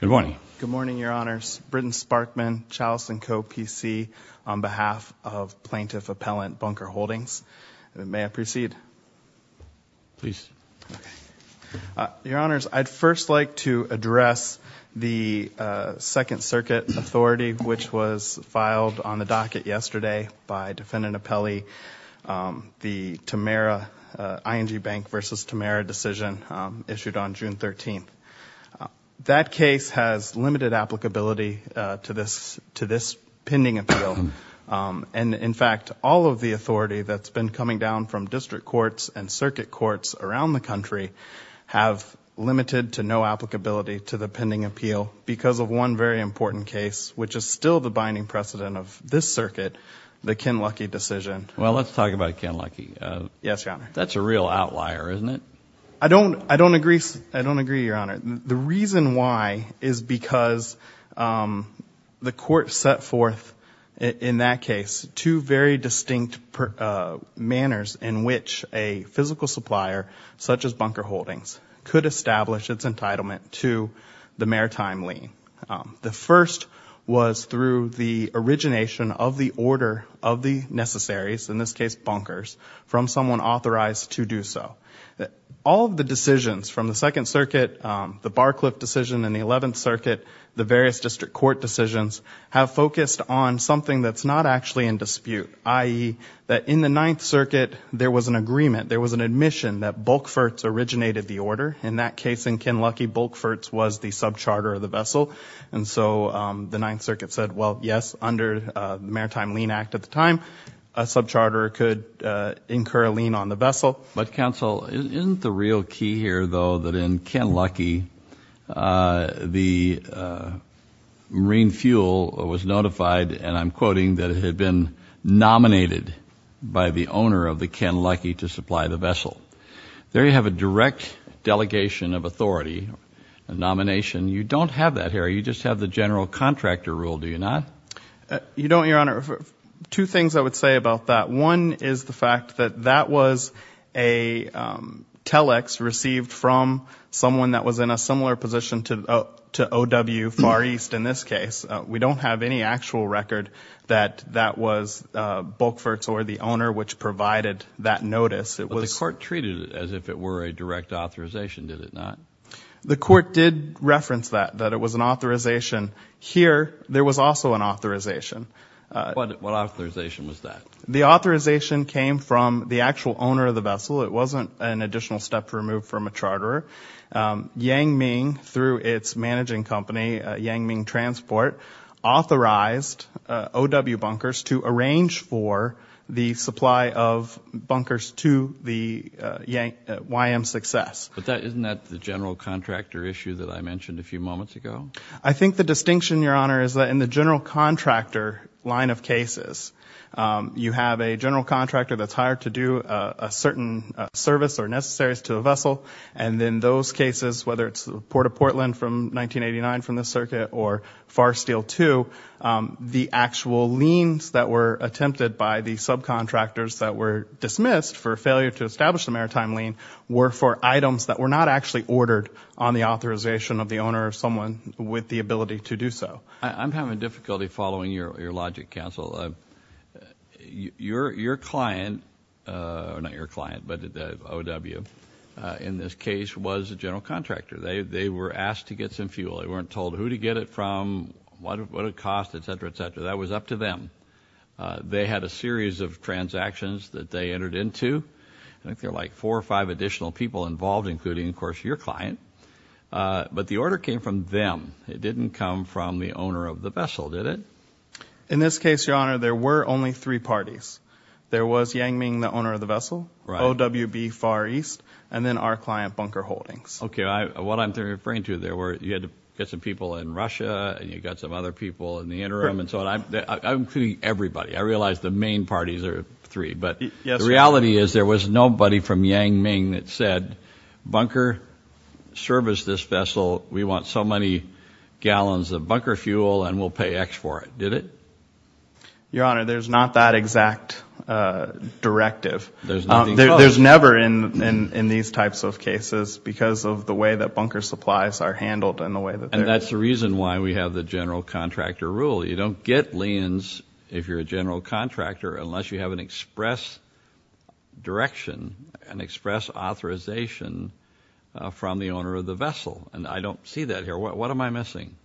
Good morning. Good morning, Your Honors. Britton Sparkman, Charleston Co. PC, on behalf of Plaintiff Appellant Bunker Holdings. May I proceed? Please. Your Honors, I'd first like to address the Second Circuit Authority, which was filed on the docket yesterday by Defendant Apelli. The Tamera, ING Bank v. Tamera decision issued on June 13th. That case has limited applicability to this pending appeal, and in fact, all of the authority that's been coming down from district courts and circuit courts around the country have limited to no applicability to the pending appeal because of one very important case, which is still the binding precedent of this circuit, the Kinlucky decision. Well, let's outlier, isn't it? I don't, I don't agree, I don't agree, Your Honor. The reason why is because the court set forth, in that case, two very distinct manners in which a physical supplier, such as Bunker Holdings, could establish its entitlement to the maritime lien. The first was through the origination of the order of the necessaries, in this case Bunkers, from someone authorized to do so. All of the decisions from the Second Circuit, the Barcliffe decision in the Eleventh Circuit, the various district court decisions, have focused on something that's not actually in dispute, i.e., that in the Ninth Circuit, there was an agreement, there was an admission that Bulkfertz originated the order. In that case, in Kinlucky, Bulkfertz was the sub-charter of the vessel, and so the Maritime Lien Act at the time, a sub-charter could incur a lien on the vessel. But, counsel, isn't the real key here, though, that in Kinlucky, the Marine Fuel was notified, and I'm quoting, that it had been nominated by the owner of the Kinlucky to supply the vessel. There you have a direct delegation of authority, a nomination. You don't have that here, you just have the general contractor rule, do you not? You don't, Your Honor. Two things I would say about that. One is the fact that that was a telex received from someone that was in a similar position to O.W. Far East in this case. We don't have any actual record that that was Bulkfertz or the owner which provided that notice. But the court treated it as if it were a direct authorization, did it not? The court did reference that, that it was an authorization. Here, there was also an authorization. What authorization was that? The authorization came from the actual owner of the vessel. It wasn't an additional step removed from a charterer. Yang Ming, through its managing company, Yang Ming Transport, authorized O.W. Bunkers to arrange for the supply of bunkers to the YM Success. But isn't that the general contractor issue that I mentioned a few moments ago? I think the distinction, Your Honor, is that in the general contractor line of cases, you have a general contractor that's hired to do a certain service or necessaries to a vessel. And in those cases, whether it's the Port of Portland from 1989 from the circuit or Farsteel II, the actual liens that were attempted by the subcontractors that were dismissed for failure to establish the were not actually ordered on the authorization of the owner of someone with the ability to do so. I'm having difficulty following your logic, counsel. Your client, not your client, but O.W., in this case was a general contractor. They were asked to get some fuel. They weren't told who to get it from, what it would cost, etc., etc. That was up to them. They had a series of transactions that they entered into. I think there are like four or five additional people involved, including, of course, your client. But the order came from them. It didn't come from the owner of the vessel, did it? In this case, Your Honor, there were only three parties. There was Yang Ming, the owner of the vessel, O.W.B. Far East, and then our client, Bunker Holdings. Okay, what I'm referring to, there were, you had to get some people in Russia, and you got some other people in the interim, and so on. I'm including everybody. I realize the main parties are three, but the reality is there was nobody from Yang Ming that said, Bunker, service this vessel. We want so many gallons of bunker fuel, and we'll pay X for it, did it? Your Honor, there's not that exact directive. There's never in these types of cases, because of the way that bunker supplies are handled. And that's the reason why we have the general contractor rule. You don't get liens if you're a general contractor, unless you have an express direction, an express authorization from the owner of the vessel. And I don't see that here. What am I missing?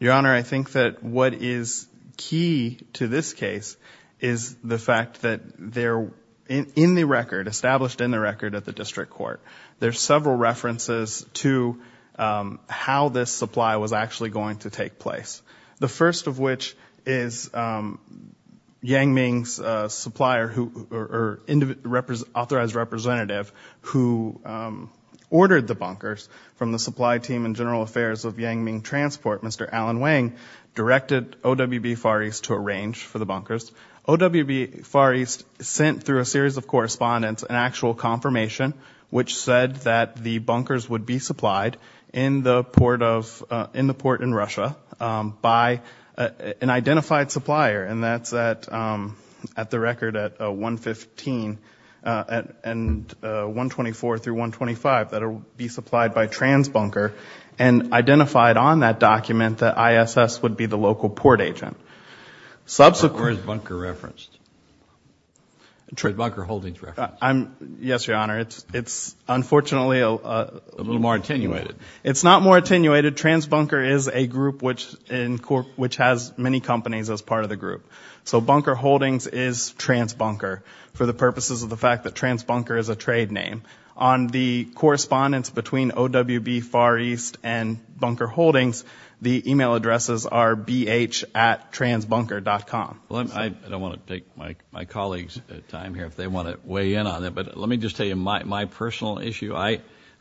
Your Honor, I think that what is key to this case is the fact that they're in the record, established in the record at the district court. There's several references to how this supply was actually going to take place. The first of which is Yang Ming's supplier, or authorized representative, who ordered the bunkers from the supply team and general affairs of Yang Ming Transport, Mr. Alan Wang, directed OWB Far East to arrange for the bunkers. OWB Far East sent through a series of correspondence an actual confirmation, which said that the bunkers would be in the port in Russia, by an identified supplier. And that's at the record at 115 and 124 through 125, that'll be supplied by TransBunker, and identified on that document that ISS would be the local port agent. Where's bunker referenced? TransBunker holdings referenced? Yes, Your Honor, it's unfortunately a little more attenuated. It's not more attenuated, TransBunker is a group which has many companies as part of the group. So bunker holdings is TransBunker, for the purposes of the fact that TransBunker is a trade name. On the correspondence between OWB Far East and bunker holdings, the email addresses are bh at TransBunker dot com. I don't want to take my colleagues time here if they want to weigh in on it, but let me just tell you my personal issue.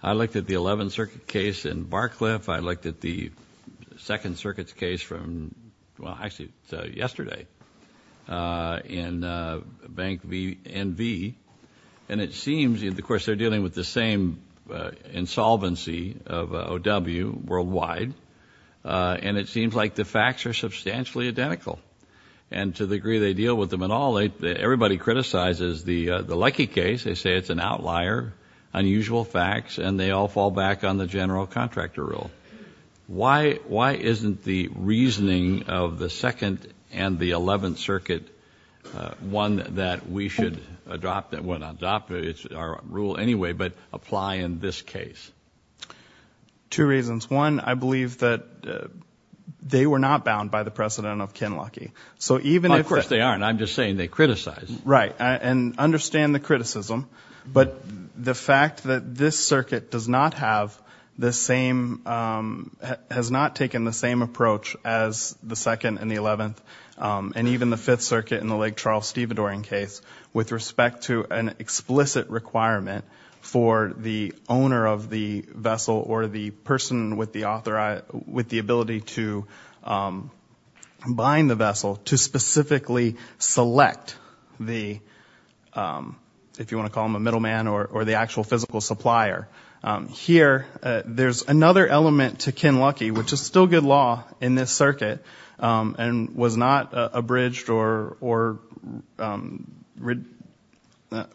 I looked at the 11th Circuit case in Barcliffe, I looked at the Second Circuit's case from, well actually yesterday, in Bank V, NV, and it seems, of course they're dealing with the same insolvency of OW worldwide, and it seems like the facts are substantially identical. And to the degree they deal with them at all, everybody criticizes the Leckie case, they say it's an outlier, unusual facts, and they all fall back on the general contractor rule. Why isn't the reasoning of the Second and the Eleventh Circuit one that we should adopt, well not adopt, it's our rule anyway, but apply in this case? Two reasons. One, I believe that they were not bound by the precedent of Ken Leckie. So even if... Of course they aren't, I'm just saying they Right, and understand the criticism, but the fact that this circuit does not have the same, has not taken the same approach as the Second and the Eleventh, and even the Fifth Circuit in the Lake Charles-Stevadorian case, with respect to an explicit requirement for the owner of the vessel or the person with the ability to bind the vessel, to specifically select the, if you want to call him a middleman, or the actual physical supplier. Here there's another element to Ken Leckie, which is still good law in this circuit, and was not which was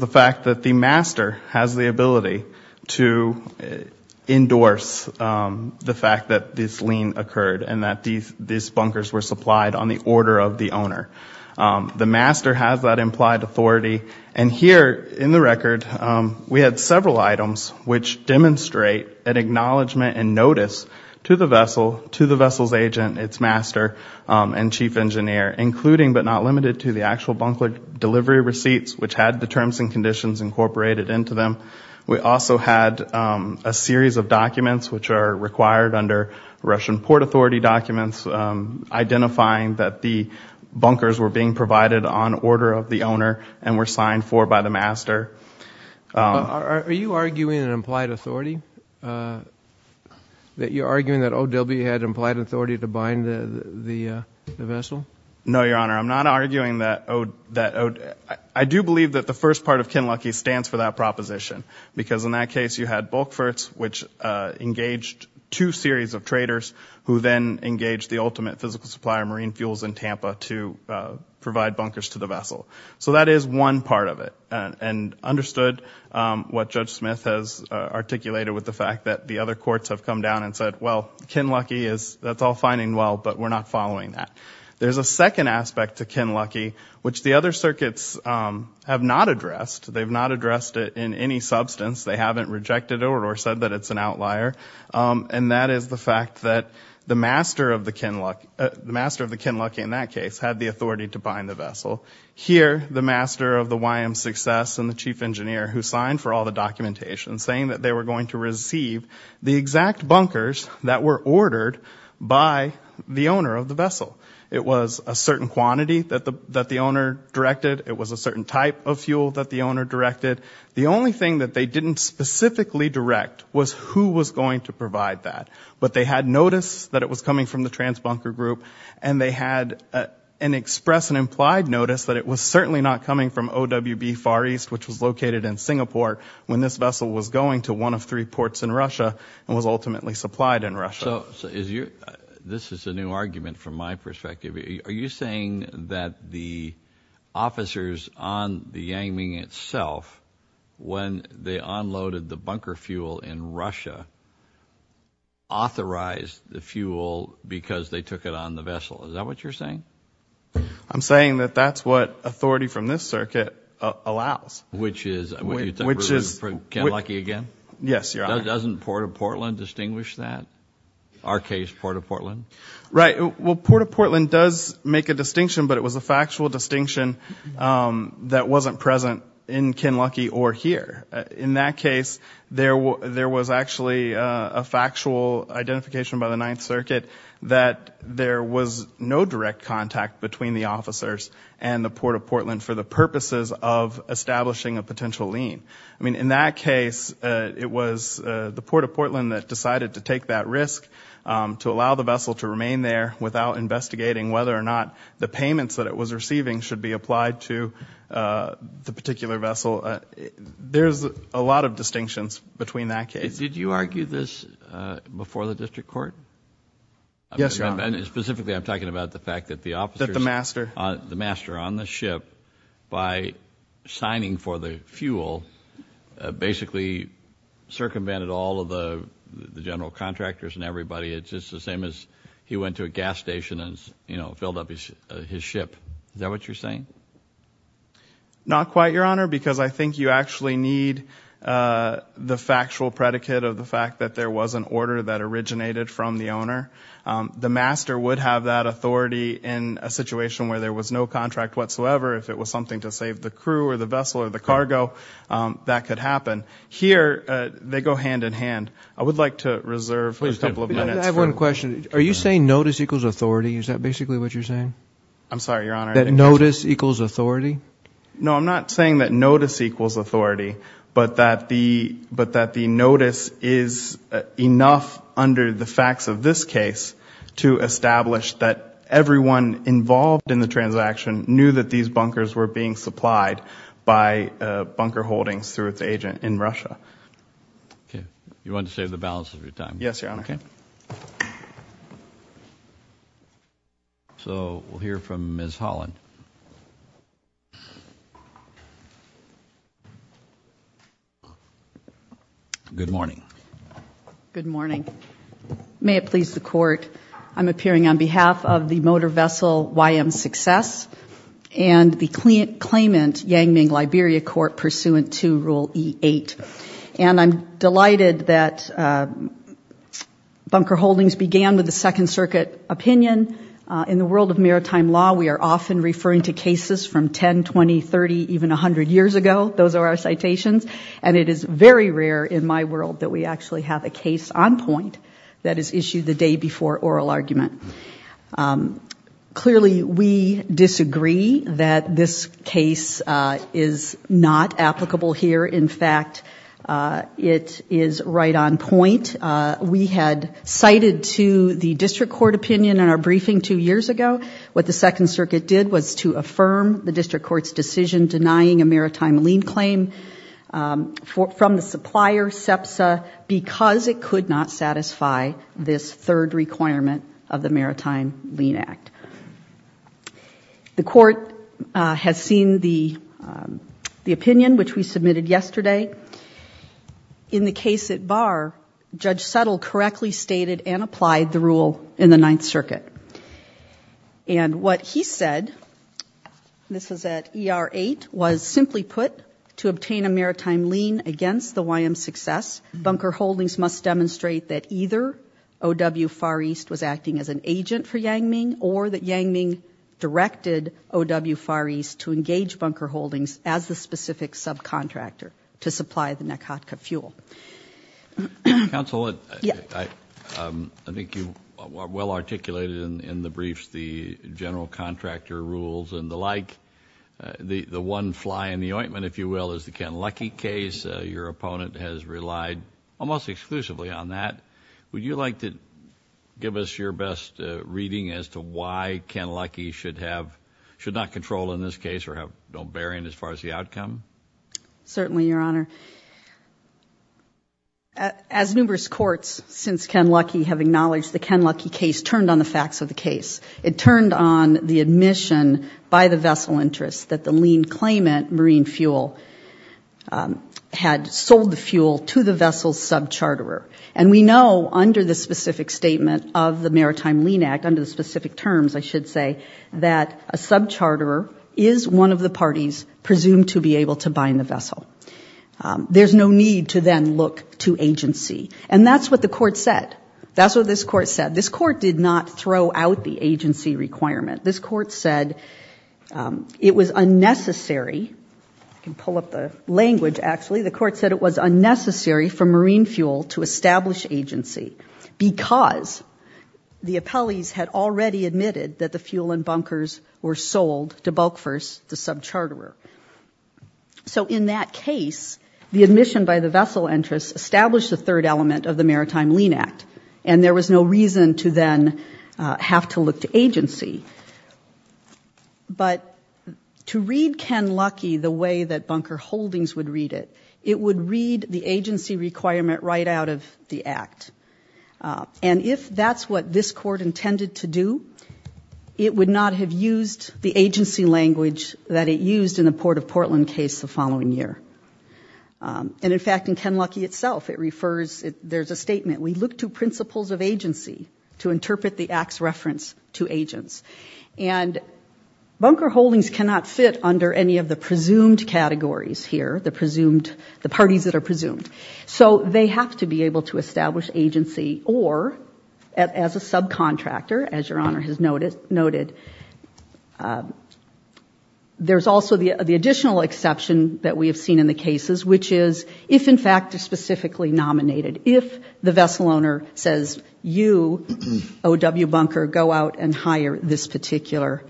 the fact that the master has the ability to endorse the fact that this lien occurred, and that these bunkers were supplied on the order of the owner. The master has that implied authority, and here in the record we had several items which demonstrate an acknowledgement and notice to the vessel, to the vessel's agent, its master, and chief engineer, including but not limited to the actual bunker delivery receipts, which had the terms and conditions incorporated into them. We also had a series of documents which are required under Russian Port Authority documents, identifying that the bunkers were being provided on order of the owner, and were signed for by the master. Are you arguing an implied authority? That you're arguing that OW had implied authority to bind the vessel? No, Your Honor, I'm not arguing that OW, I do believe that the first part of Ken Leckie stands for that proposition, because in that case you had Bulkforts, which engaged two series of traders, who then engaged the ultimate physical supplier, Marine Fuels in Tampa, to provide bunkers to the vessel. So that is one part of it, and understood what Judge Smith has articulated with the fact that the other courts have come down and said, well Ken Leckie is, that's all fine and well, but we're not following that. There's a second aspect to Ken Leckie, which the other circuits have not addressed. They've not addressed it in any substance, they haven't rejected it or said that it's an outlier, and that is the fact that the master of the Ken Leckie, the master of the Ken Leckie in that case, had the authority to bind the vessel. Here, the master of the YM Success and the chief engineer, who signed for all the documentation, saying that they were going to receive the exact bunkers that were ordered by the owner of the vessel. It was a certain quantity that the owner directed, it was a certain type of fuel that the owner directed. The only thing that they didn't specifically direct was who was going to provide that. But they had notice that it was coming from the trans bunker group, and they had an express and implied notice that it was certainly not coming from OWB Far East, which was located in Singapore, when this vessel was going to one of three So, this is a new argument from my perspective. Are you saying that the officers on the Yang Ming itself, when they unloaded the bunker fuel in Russia, authorized the fuel because they took it on the vessel? Is that what you're saying? I'm saying that that's what authority from this circuit allows. Which is, Ken Leckie again? Yes, Your Honor. Doesn't Port of Portland distinguish that? Our case, Port of Portland? Right. Well, Port of Portland does make a distinction, but it was a factual distinction that wasn't present in Ken Leckie or here. In that case, there was actually a factual identification by the Ninth Circuit that there was no direct contact between the officers and the Port of Portland for the purposes of the Port of Portland that decided to take that risk to allow the vessel to remain there without investigating whether or not the payments that it was receiving should be applied to the particular vessel. There's a lot of distinctions between that case. Did you argue this before the district court? Yes, Your Honor. Specifically, I'm talking about the fact that the officers... That the master... The master on the ship, by signing for the fuel, basically circumvented all of the general contractors and everybody. It's just the same as he went to a gas station and, you know, filled up his ship. Is that what you're saying? Not quite, Your Honor, because I think you actually need the factual predicate of the fact that there was an order that originated from the owner. The master would have that authority in a situation where there was no contract whatsoever. If it was something to save the crew or the vessel or the cargo, that could happen. Here, they go hand in hand. I would like to reserve a couple of minutes... I have one question. Are you saying notice equals authority? Is that basically what you're saying? I'm sorry, Your Honor. That notice equals authority? No, I'm not saying that notice equals authority, but that the notice is enough under the facts of this case to establish that everyone involved in the transaction knew that these bunkers were being supplied by bunker holdings through its agent in Russia. Okay. You want to save the balance of your time? Yes, Your Honor. So, we'll hear from Ms. Holland. Good morning. Good morning. May it please the court, I'm appearing on behalf of the Motor Vessel YM Success and the claimant, Yang Ming Liberia Court, pursuant to Rule E8. And I'm delighted that bunker holdings began with the Second Circuit opinion. In the world of maritime law, we are often referring to cases from 10, 20, 30, even 100 years ago. Those are our citations. And it very rare in my world that we actually have a case on point that is issued the day before oral argument. Clearly, we disagree that this case is not applicable here. In fact, it is right on point. We had cited to the district court opinion in our briefing two years ago, what the Second Circuit did was to affirm the district court's decision denying a maritime lien claim from the supplier, SEPSA, because it could not satisfy this third requirement of the Maritime Lien Act. The court has seen the opinion, which we submitted yesterday. In the case at Barr, Judge Settle correctly stated and applied the rule in the Ninth Circuit. And what he said, this put, to obtain a maritime lien against the YM's success, bunker holdings must demonstrate that either OW Far East was acting as an agent for Yang Ming or that Yang Ming directed OW Far East to engage bunker holdings as the specific subcontractor to supply the Nakatka fuel. Counsel, I think you well articulated in the briefs the general contractor rules and the like. The one fly in the ointment, if you will, is the Ken Luckey case. Your opponent has relied almost exclusively on that. Would you like to give us your best reading as to why Ken Luckey should not control in this case or have no bearing as far as the outcome? Certainly, Your Honor. As numerous courts since Ken Luckey have acknowledged, the Ken Luckey case turned on the facts of the case. It turned on the admission by the vessel interests that the lien claimant, Marine Fuel, had sold the fuel to the vessel's sub-charterer. And we know under the specific statement of the Maritime Lien Act, under the specific terms, I should say, that a sub-charterer is one of the parties presumed to be able to bind the vessel. There's no need to then look to agency. And that's what the court said. That's what this court said. This court did not throw out the agency requirement. This court said it was unnecessary. I can pull up the language, actually. The court said it was unnecessary for Marine Fuel to establish agency because the appellees had already admitted that the fuel and bunkers were sold to Bulkfirst, the sub-charterer. So in that case, the admission by the vessel interests established the third element of the Maritime Lien Act. And there was no reason to then have to look to agency. But to read Ken Luckey the way that bunker holdings would read it, it would read the agency requirement right out of the act. And if that's what this court intended to do, it would not have used the agency language that it used in the Port of Portland case the following year. And in fact, in Ken Luckey itself, it refers, there's a statement, we look to principles of agency to interpret the act's reference to agents. And bunker holdings cannot fit under any of the presumed categories here, the parties that are presumed. So they have to be able to establish agency or, as a subcontractor, as Your Honor has noted, there's also the additional exception that we have seen in the cases, which is, if in fact it's specifically nominated, if the vessel owner says, you, O.W. Bunker, go out and hire this particular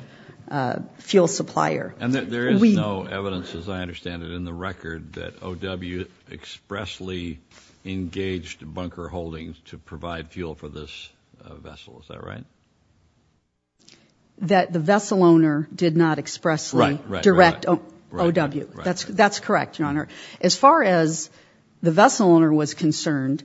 fuel supplier. And there is no evidence, as I understand it, in the record that O.W. expressly engaged bunker holdings to provide fuel for this vessel, is that right? That the vessel owner did not expressly direct O.W. That's correct, Your Honor. As far as the vessel owner was concerned,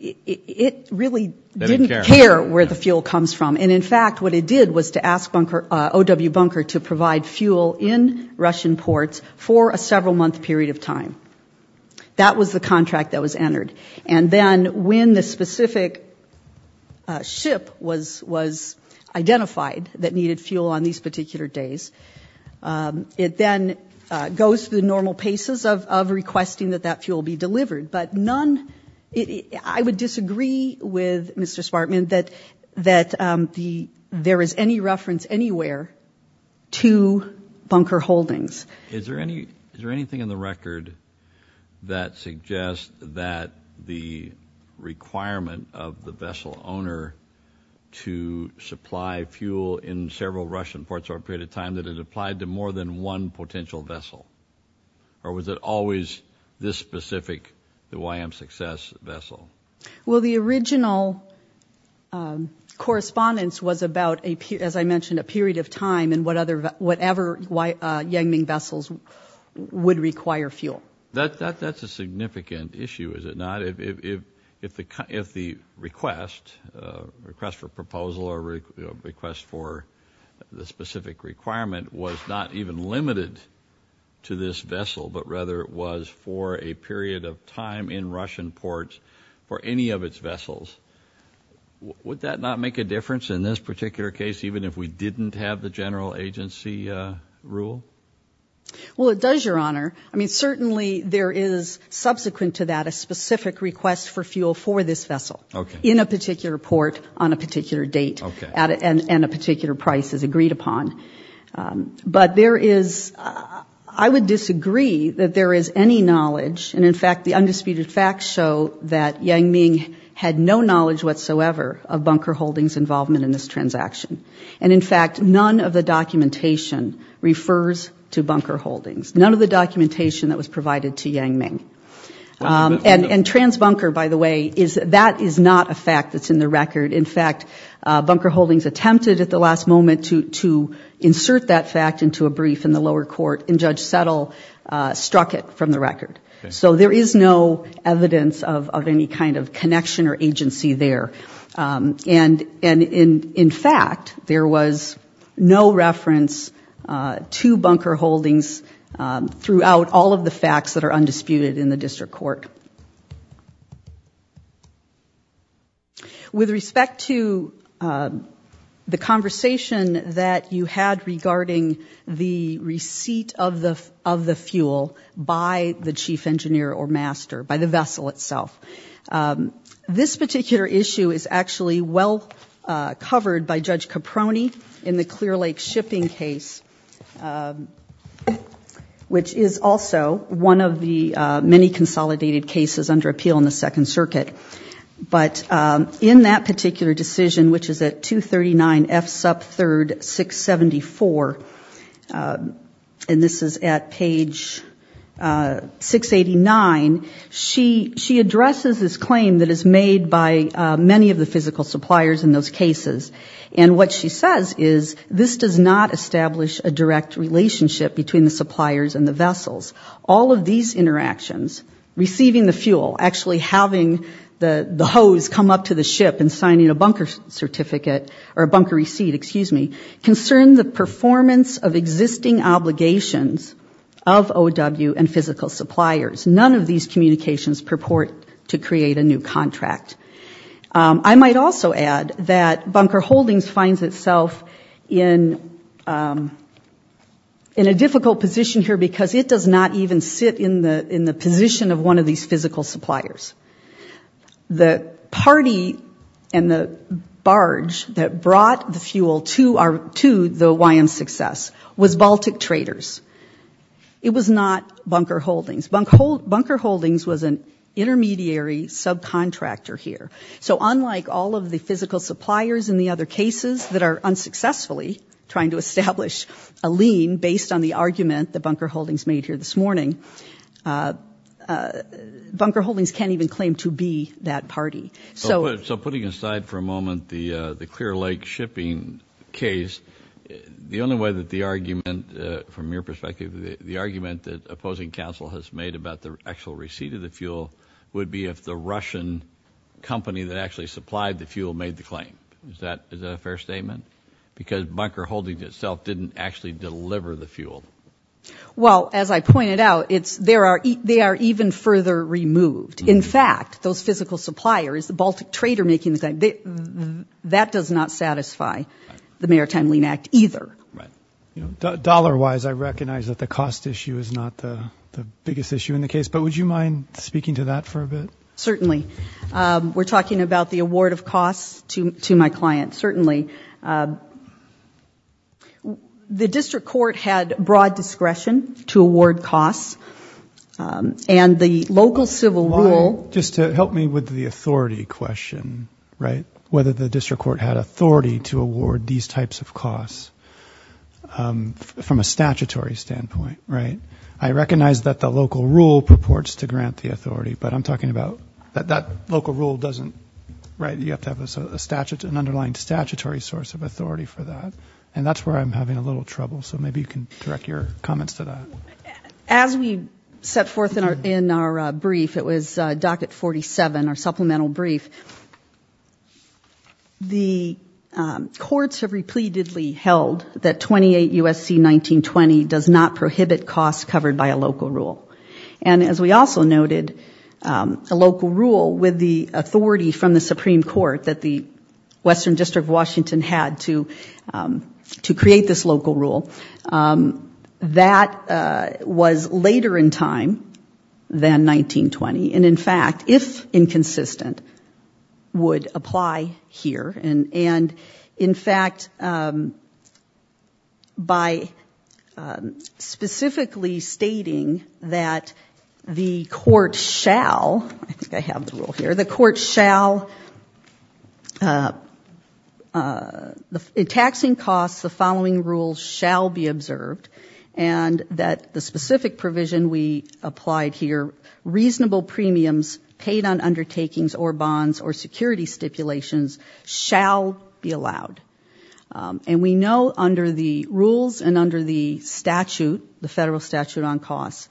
it really didn't care where the fuel comes from. And in fact, what it did was to ask O.W. Bunker to provide fuel in Russian ports for a several month period of time. That was the contract that was entered. And then when the specific ship was identified that needed fuel on these particular days, it then goes through the normal paces of requesting that that fuel be delivered. But none, I would disagree with Mr. Smartman that there is any reference anywhere to bunker holdings. Is there anything in the record that suggests that the requirement of the vessel owner to supply fuel in several Russian ports over a period of time that it applied to more than one potential vessel? Or was it always this specific, the YM-Success vessel? Well, the original correspondence was about, as I mentioned, a period of time and what other, whatever Yang Ming vessels would require fuel. That's a significant issue, is it not? If the request for proposal or request for the specific requirement was not even limited to this vessel, but rather it was for a period of time in Russian ports for any of its vessels, would that not make a difference in this particular case, even if we didn't have the general agency rule? Well, it does, Your Honor. I mean, certainly there is subsequent to that a specific request for fuel for this vessel in a particular port on a particular date and a particular price is agreed upon. But there is, I would disagree that there is any knowledge, and in fact the undisputed facts show that Yang Ming had no knowledge whatsoever of bunker holdings involvement in this transaction. And in fact, none of the documentation refers to bunker holdings. None of the documentation that was provided to Yang Ming. And trans-bunker, by the way, that is not a fact that's in the record. In fact, bunker holdings attempted at the last moment to insert that fact into a brief in the lower court, and Judge Settle struck it from the record. So there is no evidence of any kind of connection or agency there. And in fact, there was no reference to bunker holdings throughout all of the facts that are undisputed in the district court. With respect to the conversation that you had regarding the receipt of the of the fuel by the chief engineer or master, by the vessel itself, this particular issue is actually well covered by Judge Caproni in the Clear Lake shipping case, which is also one of the many consolidated cases under appeal in the Second Circuit. But in that particular decision, which is at 239 F sub 3rd 674, and this is at page 689, she addresses this claim that is made by many of the physical suppliers in those cases. And what she says is, this does not establish a direct relationship between the suppliers and the vessels. All of these interactions, receiving the fuel, actually having the hose come up to the ship and signing a bunker certificate, or a bunker receipt, excuse me, concern the performance of existing obligations of OW and physical suppliers. None of these communications purport to bunker holdings finds itself in a difficult position here because it does not even sit in the in the position of one of these physical suppliers. The party and the barge that brought the fuel to the OWYM's success was Baltic Traders. It was not bunker holdings. Bunker holdings was an association of the physical suppliers in the other cases that are unsuccessfully trying to establish a lien based on the argument that bunker holdings made here this morning. Bunker holdings can't even claim to be that party. So putting aside for a moment the the Clear Lake shipping case, the only way that the argument, from your perspective, the argument that opposing counsel has made about the actual receipt of the fuel would be if the Russian company that actually supplied the fuel made the claim. Is that a fair statement? Because bunker holdings itself didn't actually deliver the fuel. Well, as I pointed out, it's there are, they are even further removed. In fact, those physical suppliers, the Baltic Trader making the claim, that does not satisfy the Maritime Lien Act either. You know, dollar-wise I recognize that the cost issue is not the biggest issue in the case, but would you mind speaking to that for a bit? Certainly. We're talking about the award of costs to my client, certainly. The district court had broad discretion to award costs and the local civil rule... Just to help me with the authority question, right, whether the district court had authority to award these types of costs from a statutory standpoint, right? I recognize that the local rule purports to grant the authority, but I'm talking about that local rule doesn't, right, you have to have a statute, an underlying statutory source of authority for that. And that's where I'm having a little trouble, so maybe you can direct your comments to that. As we set forth in our brief, it was docket 47, our supplemental brief, the courts have repeatedly held that 28 U.S.C. 1920 does not prohibit costs covered by a local rule. And as we also noted, a local rule with the authority from the Supreme Court that the Western District of Washington had to create this local rule, that was later in time than 1920. And in fact, if inconsistent, would apply here. And in fact, by specifically stating that the court shall, I think I have the rule here, the court shall... In taxing costs, the following rules shall be observed, and that the specific provision we applied here, reasonable premiums paid on undertakings or bonds or security stipulations, shall be allowed. And we know under the rules and under the statute, the federal statute on costs,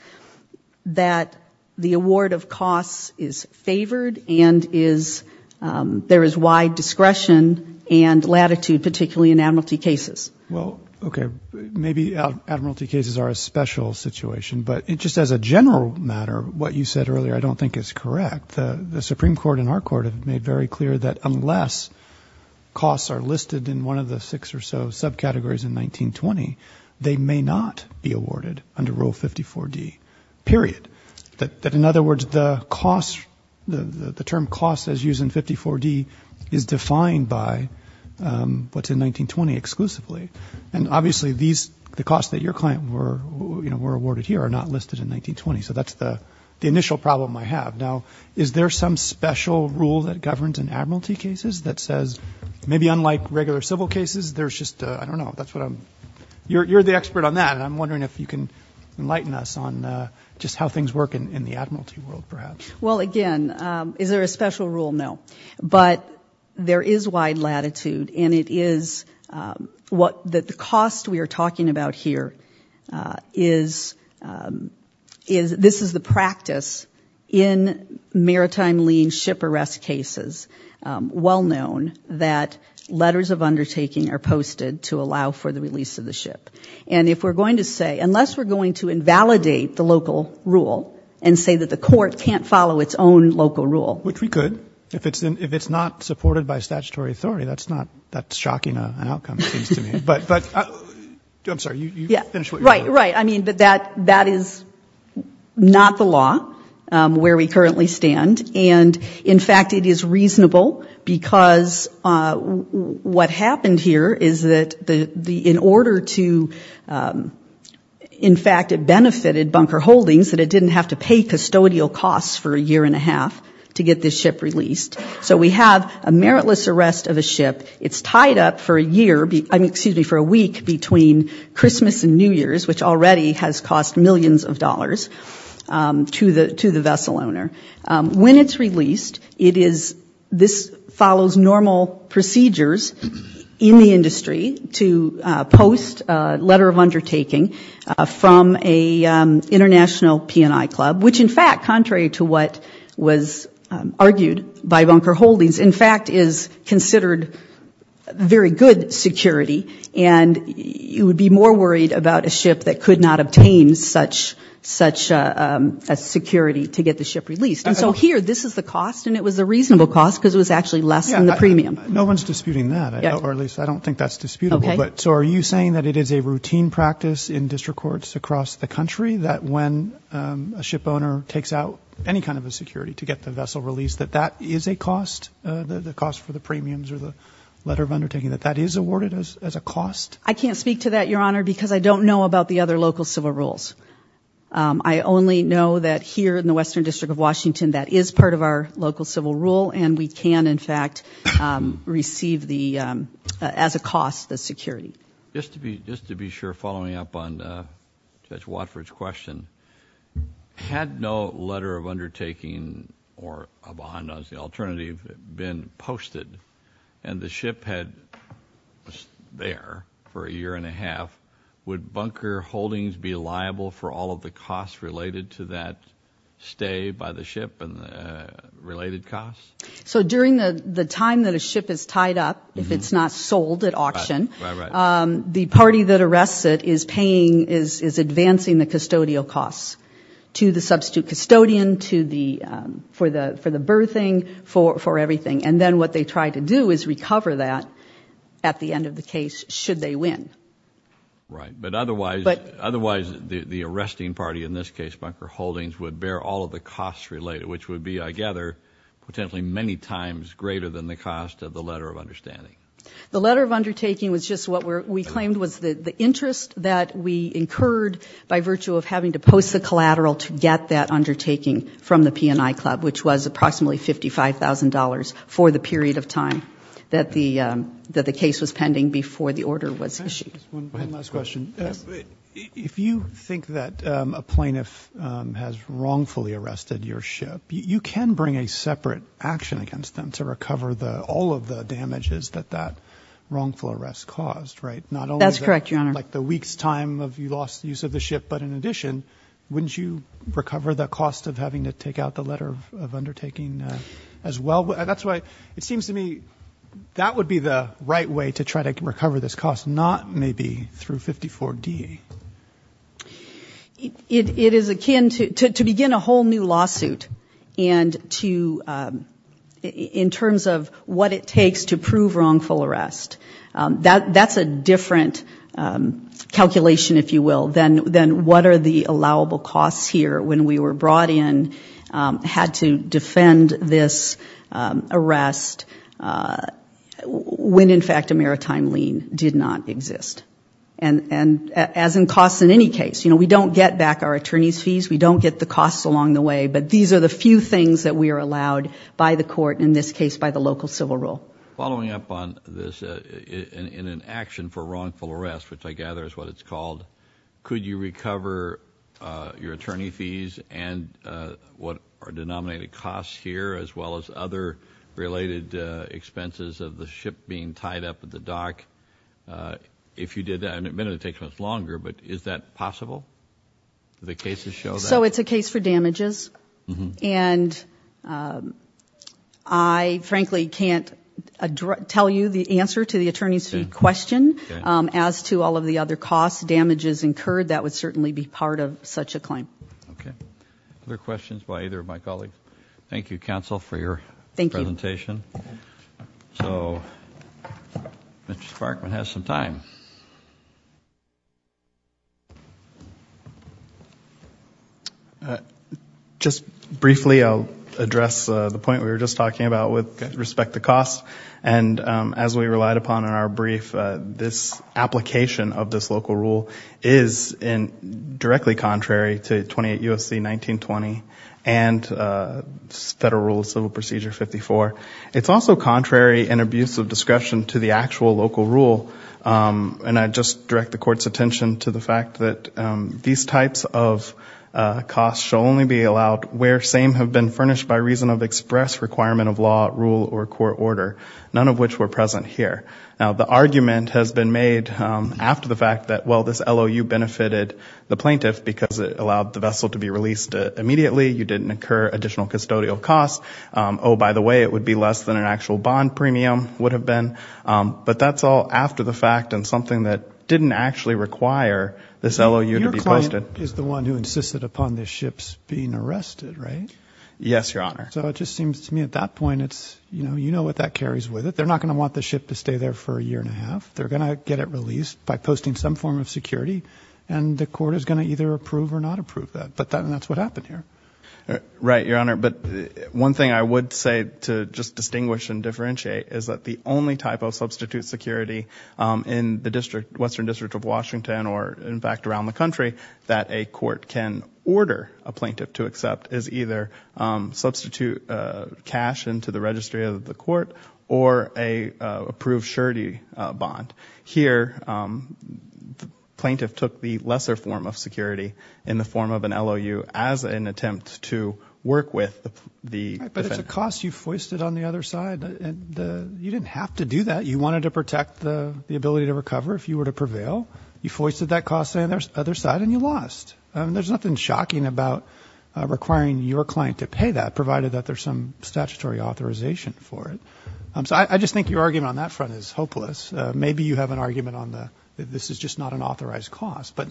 that the award of costs is favored and there is wide discretion and latitude, particularly in admiralty cases. Well, okay, maybe admiralty cases are a special situation, but just as a general matter, what you said earlier I don't think is correct. The Supreme Court and our court have made very clear that unless costs are listed in one of the six or so subcategories in 1920, they may not be awarded under Rule 54D, period. That in other words, the cost, the term cost as used in 54D is defined by what's in 1920 exclusively. And obviously, these, the costs that your client were, you know, were awarded here are not listed in 1920. So that's the initial problem I have. Now, is there some special rule that governs in admiralty cases that says, maybe unlike regular civil cases, there's just, I don't know, that's what I'm, you're the expert on that and I'm wondering if you can enlighten us on just how things work in the admiralty world perhaps. Well again, is there a special rule? No. But there is wide latitude and it is what the cost we are talking about here is, this is the practice in maritime lien ship arrest cases, well known, that letters of undertaking are posted to allow for the release of the ship. And if we're going to say, unless we're going to invalidate the local rule and say that the court can't follow its own local rule. Which we could. If it's not supported by statutory authority, that's not, that's shocking an outcome, it seems to me. But, I'm sorry, you finished what you were doing. Right, right. I mean, but that is not the where we currently stand and in fact it is reasonable because what happened here is that the, in order to, in fact it benefited Bunker Holdings that it didn't have to pay custodial costs for a year and a half to get this ship released. So we have a meritless arrest of a ship, it's tied up for a year, excuse me, for a week between Christmas and New Year's, which already has cost millions of dollars to the vessel owner. When it's released, it is, this follows normal procedures in the industry to post a letter of undertaking from a international PNI club, which in fact, contrary to what was argued by Bunker Holdings, in fact is considered very good security and you would be more worried about a ship that could not obtain such a security to get the ship released. And so here, this is the cost and it was a reasonable cost because it was actually less than the premium. No one's disputing that, or at least I don't think that's disputable, but so are you saying that it is a routine practice in district courts across the country that when a ship owner takes out any kind of a security to get the vessel released that that is a cost, the cost for the premiums or the letter of undertaking, that that is awarded as a cost? I can't speak to that, Your Honor, because I don't know about the other local civil rules. I only know that here in the Western District of Washington that is part of our local civil rule and we can in fact receive the, as a cost, the security. Just to be just to be sure, following up on Judge Watford's question, had no letter of undertaking or a behind-the-scenes alternative been posted and the ship was there for a year and a half, would bunker holdings be liable for all of the costs related to that stay by the ship and the related costs? So during the the time that a ship is tied up, if it's not sold at auction, the party that arrests it is paying, is advancing the custodial costs to the substitute custodian, to the, for the for the birthing, for for everything and then what they try to do is recover that at the end of the case should they win. Right, but otherwise, otherwise the arresting party in this case, bunker holdings, would bear all of the costs related, which would be, I gather, potentially many times greater than the cost of the letter of understanding. The letter of undertaking was just what we're we claimed was the interest that we incurred by virtue of having to post the collateral to get that undertaking from the P&I Club, which was approximately $55,000 for the period of time that the that the case was pending before the order was issued. If you think that a plaintiff has wrongfully arrested your ship, you can bring a separate action against them to recover the all of the damages that that like the week's time of you lost use of the ship, but in addition, wouldn't you recover the cost of having to take out the letter of undertaking as well? That's why it seems to me that would be the right way to try to recover this cost, not maybe through 54d. It is akin to to begin a whole new lawsuit and to, in terms of what it takes to prove wrongful arrest, that's a different calculation, if you will, than what are the allowable costs here when we were brought in, had to defend this arrest, when in fact a maritime lien did not exist. And as in costs in any case, you know, we don't get back our attorney's fees, we don't get the costs along the way, but these are the few things that we are allowed by the court, in this case by the local civil rule. Following up on this, in an action for wrongful arrest, which I gather is what it's called, could you recover your attorney fees and what are denominated costs here as well as other related expenses of the ship being tied up at the dock? If you did that, and admittedly it takes much longer, but is that possible? So it's a case for damages and I frankly can't tell you the answer to the attorney's fee question as to all of the other costs, damages incurred, that would certainly be part of such a claim. Okay, other questions by either of my colleagues? Thank you counsel for your presentation. So Mr. Sparkman has some time. Just briefly, I'll address the point we were just talking about with respect to costs. And as we relied upon in our brief, this application of this local rule is in directly contrary to 28 U.S.C. 1920 and Federal Rules of Civil Procedure 54. It's also contrary and abuse of discretion to the actual local rule. And I just direct the court's attention to the fact that these types of costs shall only be allowed where same have been furnished by reason of express requirement of law, rule, or court order, none of which were present here. Now the argument has been made after the fact that well this LOU benefited the plaintiff because it allowed the vessel to be released immediately, you didn't incur additional custodial costs, oh by the way it would be less than an actual bond premium would have been, but that's all after the fact and something that didn't actually require this LOU to be posted. So your client is the one who insisted upon this ship's being arrested, right? Yes, Your Honor. So it just seems to me at that point it's, you know, you know what that carries with it. They're not going to want the ship to stay there for a year and a half. They're going to get it released by posting some form of security and the court is going to either approve or not approve that. But that's what happened here. Right, Your Honor, but one thing I would say to just distinguish and differentiate is that the only type of substitute security in the district, Western District of Washington, or in fact around the country, that a court can order a plaintiff to accept is either substitute cash into the registry of the court or a approved surety bond. Here the plaintiff took the lesser form of security in the attempt to work with the defendant. But it's a cost you foisted on the other side. You didn't have to do that. You wanted to protect the ability to recover if you were to prevail. You foisted that cost on the other side and you lost. There's nothing shocking about requiring your client to pay that, provided that there's some statutory authorization for it. So I just think your argument on that front is hopeless. Maybe you have an argument on the, this is just not an authorized cost, but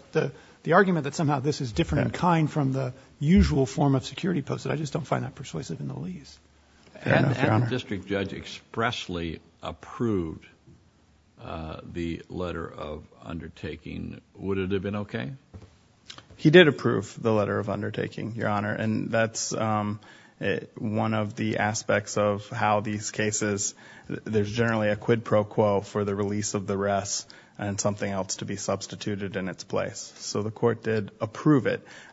the argument that somehow this is different in kind from the usual form of security posted. I just don't find that persuasive in the least. And the district judge expressly approved the letter of undertaking. Would it have been okay? He did approve the letter of undertaking, Your Honor, and that's one of the aspects of how these cases, there's generally a quid pro quo for the release of the rest and something else to be approved.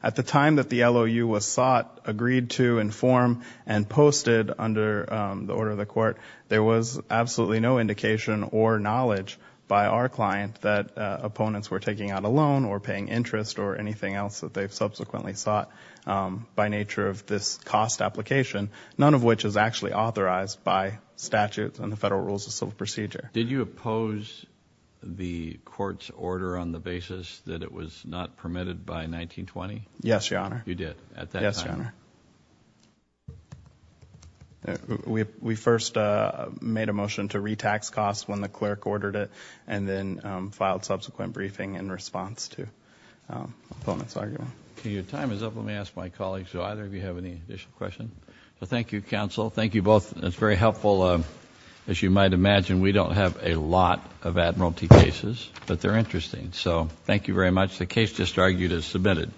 At the time that the LOU was sought, agreed to, informed, and posted under the order of the court, there was absolutely no indication or knowledge by our client that opponents were taking out a loan or paying interest or anything else that they've subsequently sought by nature of this cost application, none of which is actually authorized by statutes and the Federal Rules of Civil Procedure. Did you oppose the court's order on the basis that it was not permitted by 1920? Yes, Your Honor. You did, at that time? Yes, Your Honor. We first made a motion to retax costs when the clerk ordered it and then filed subsequent briefing in response to opponent's argument. Okay, your time is up. Let me ask my colleagues, do either of you have any additional questions? Well, thank you, counsel. Thank you both. It's very helpful. As you might imagine, we don't have a lot of admiralty cases, but they're interesting, so thank you very much. The case just argued is submitted.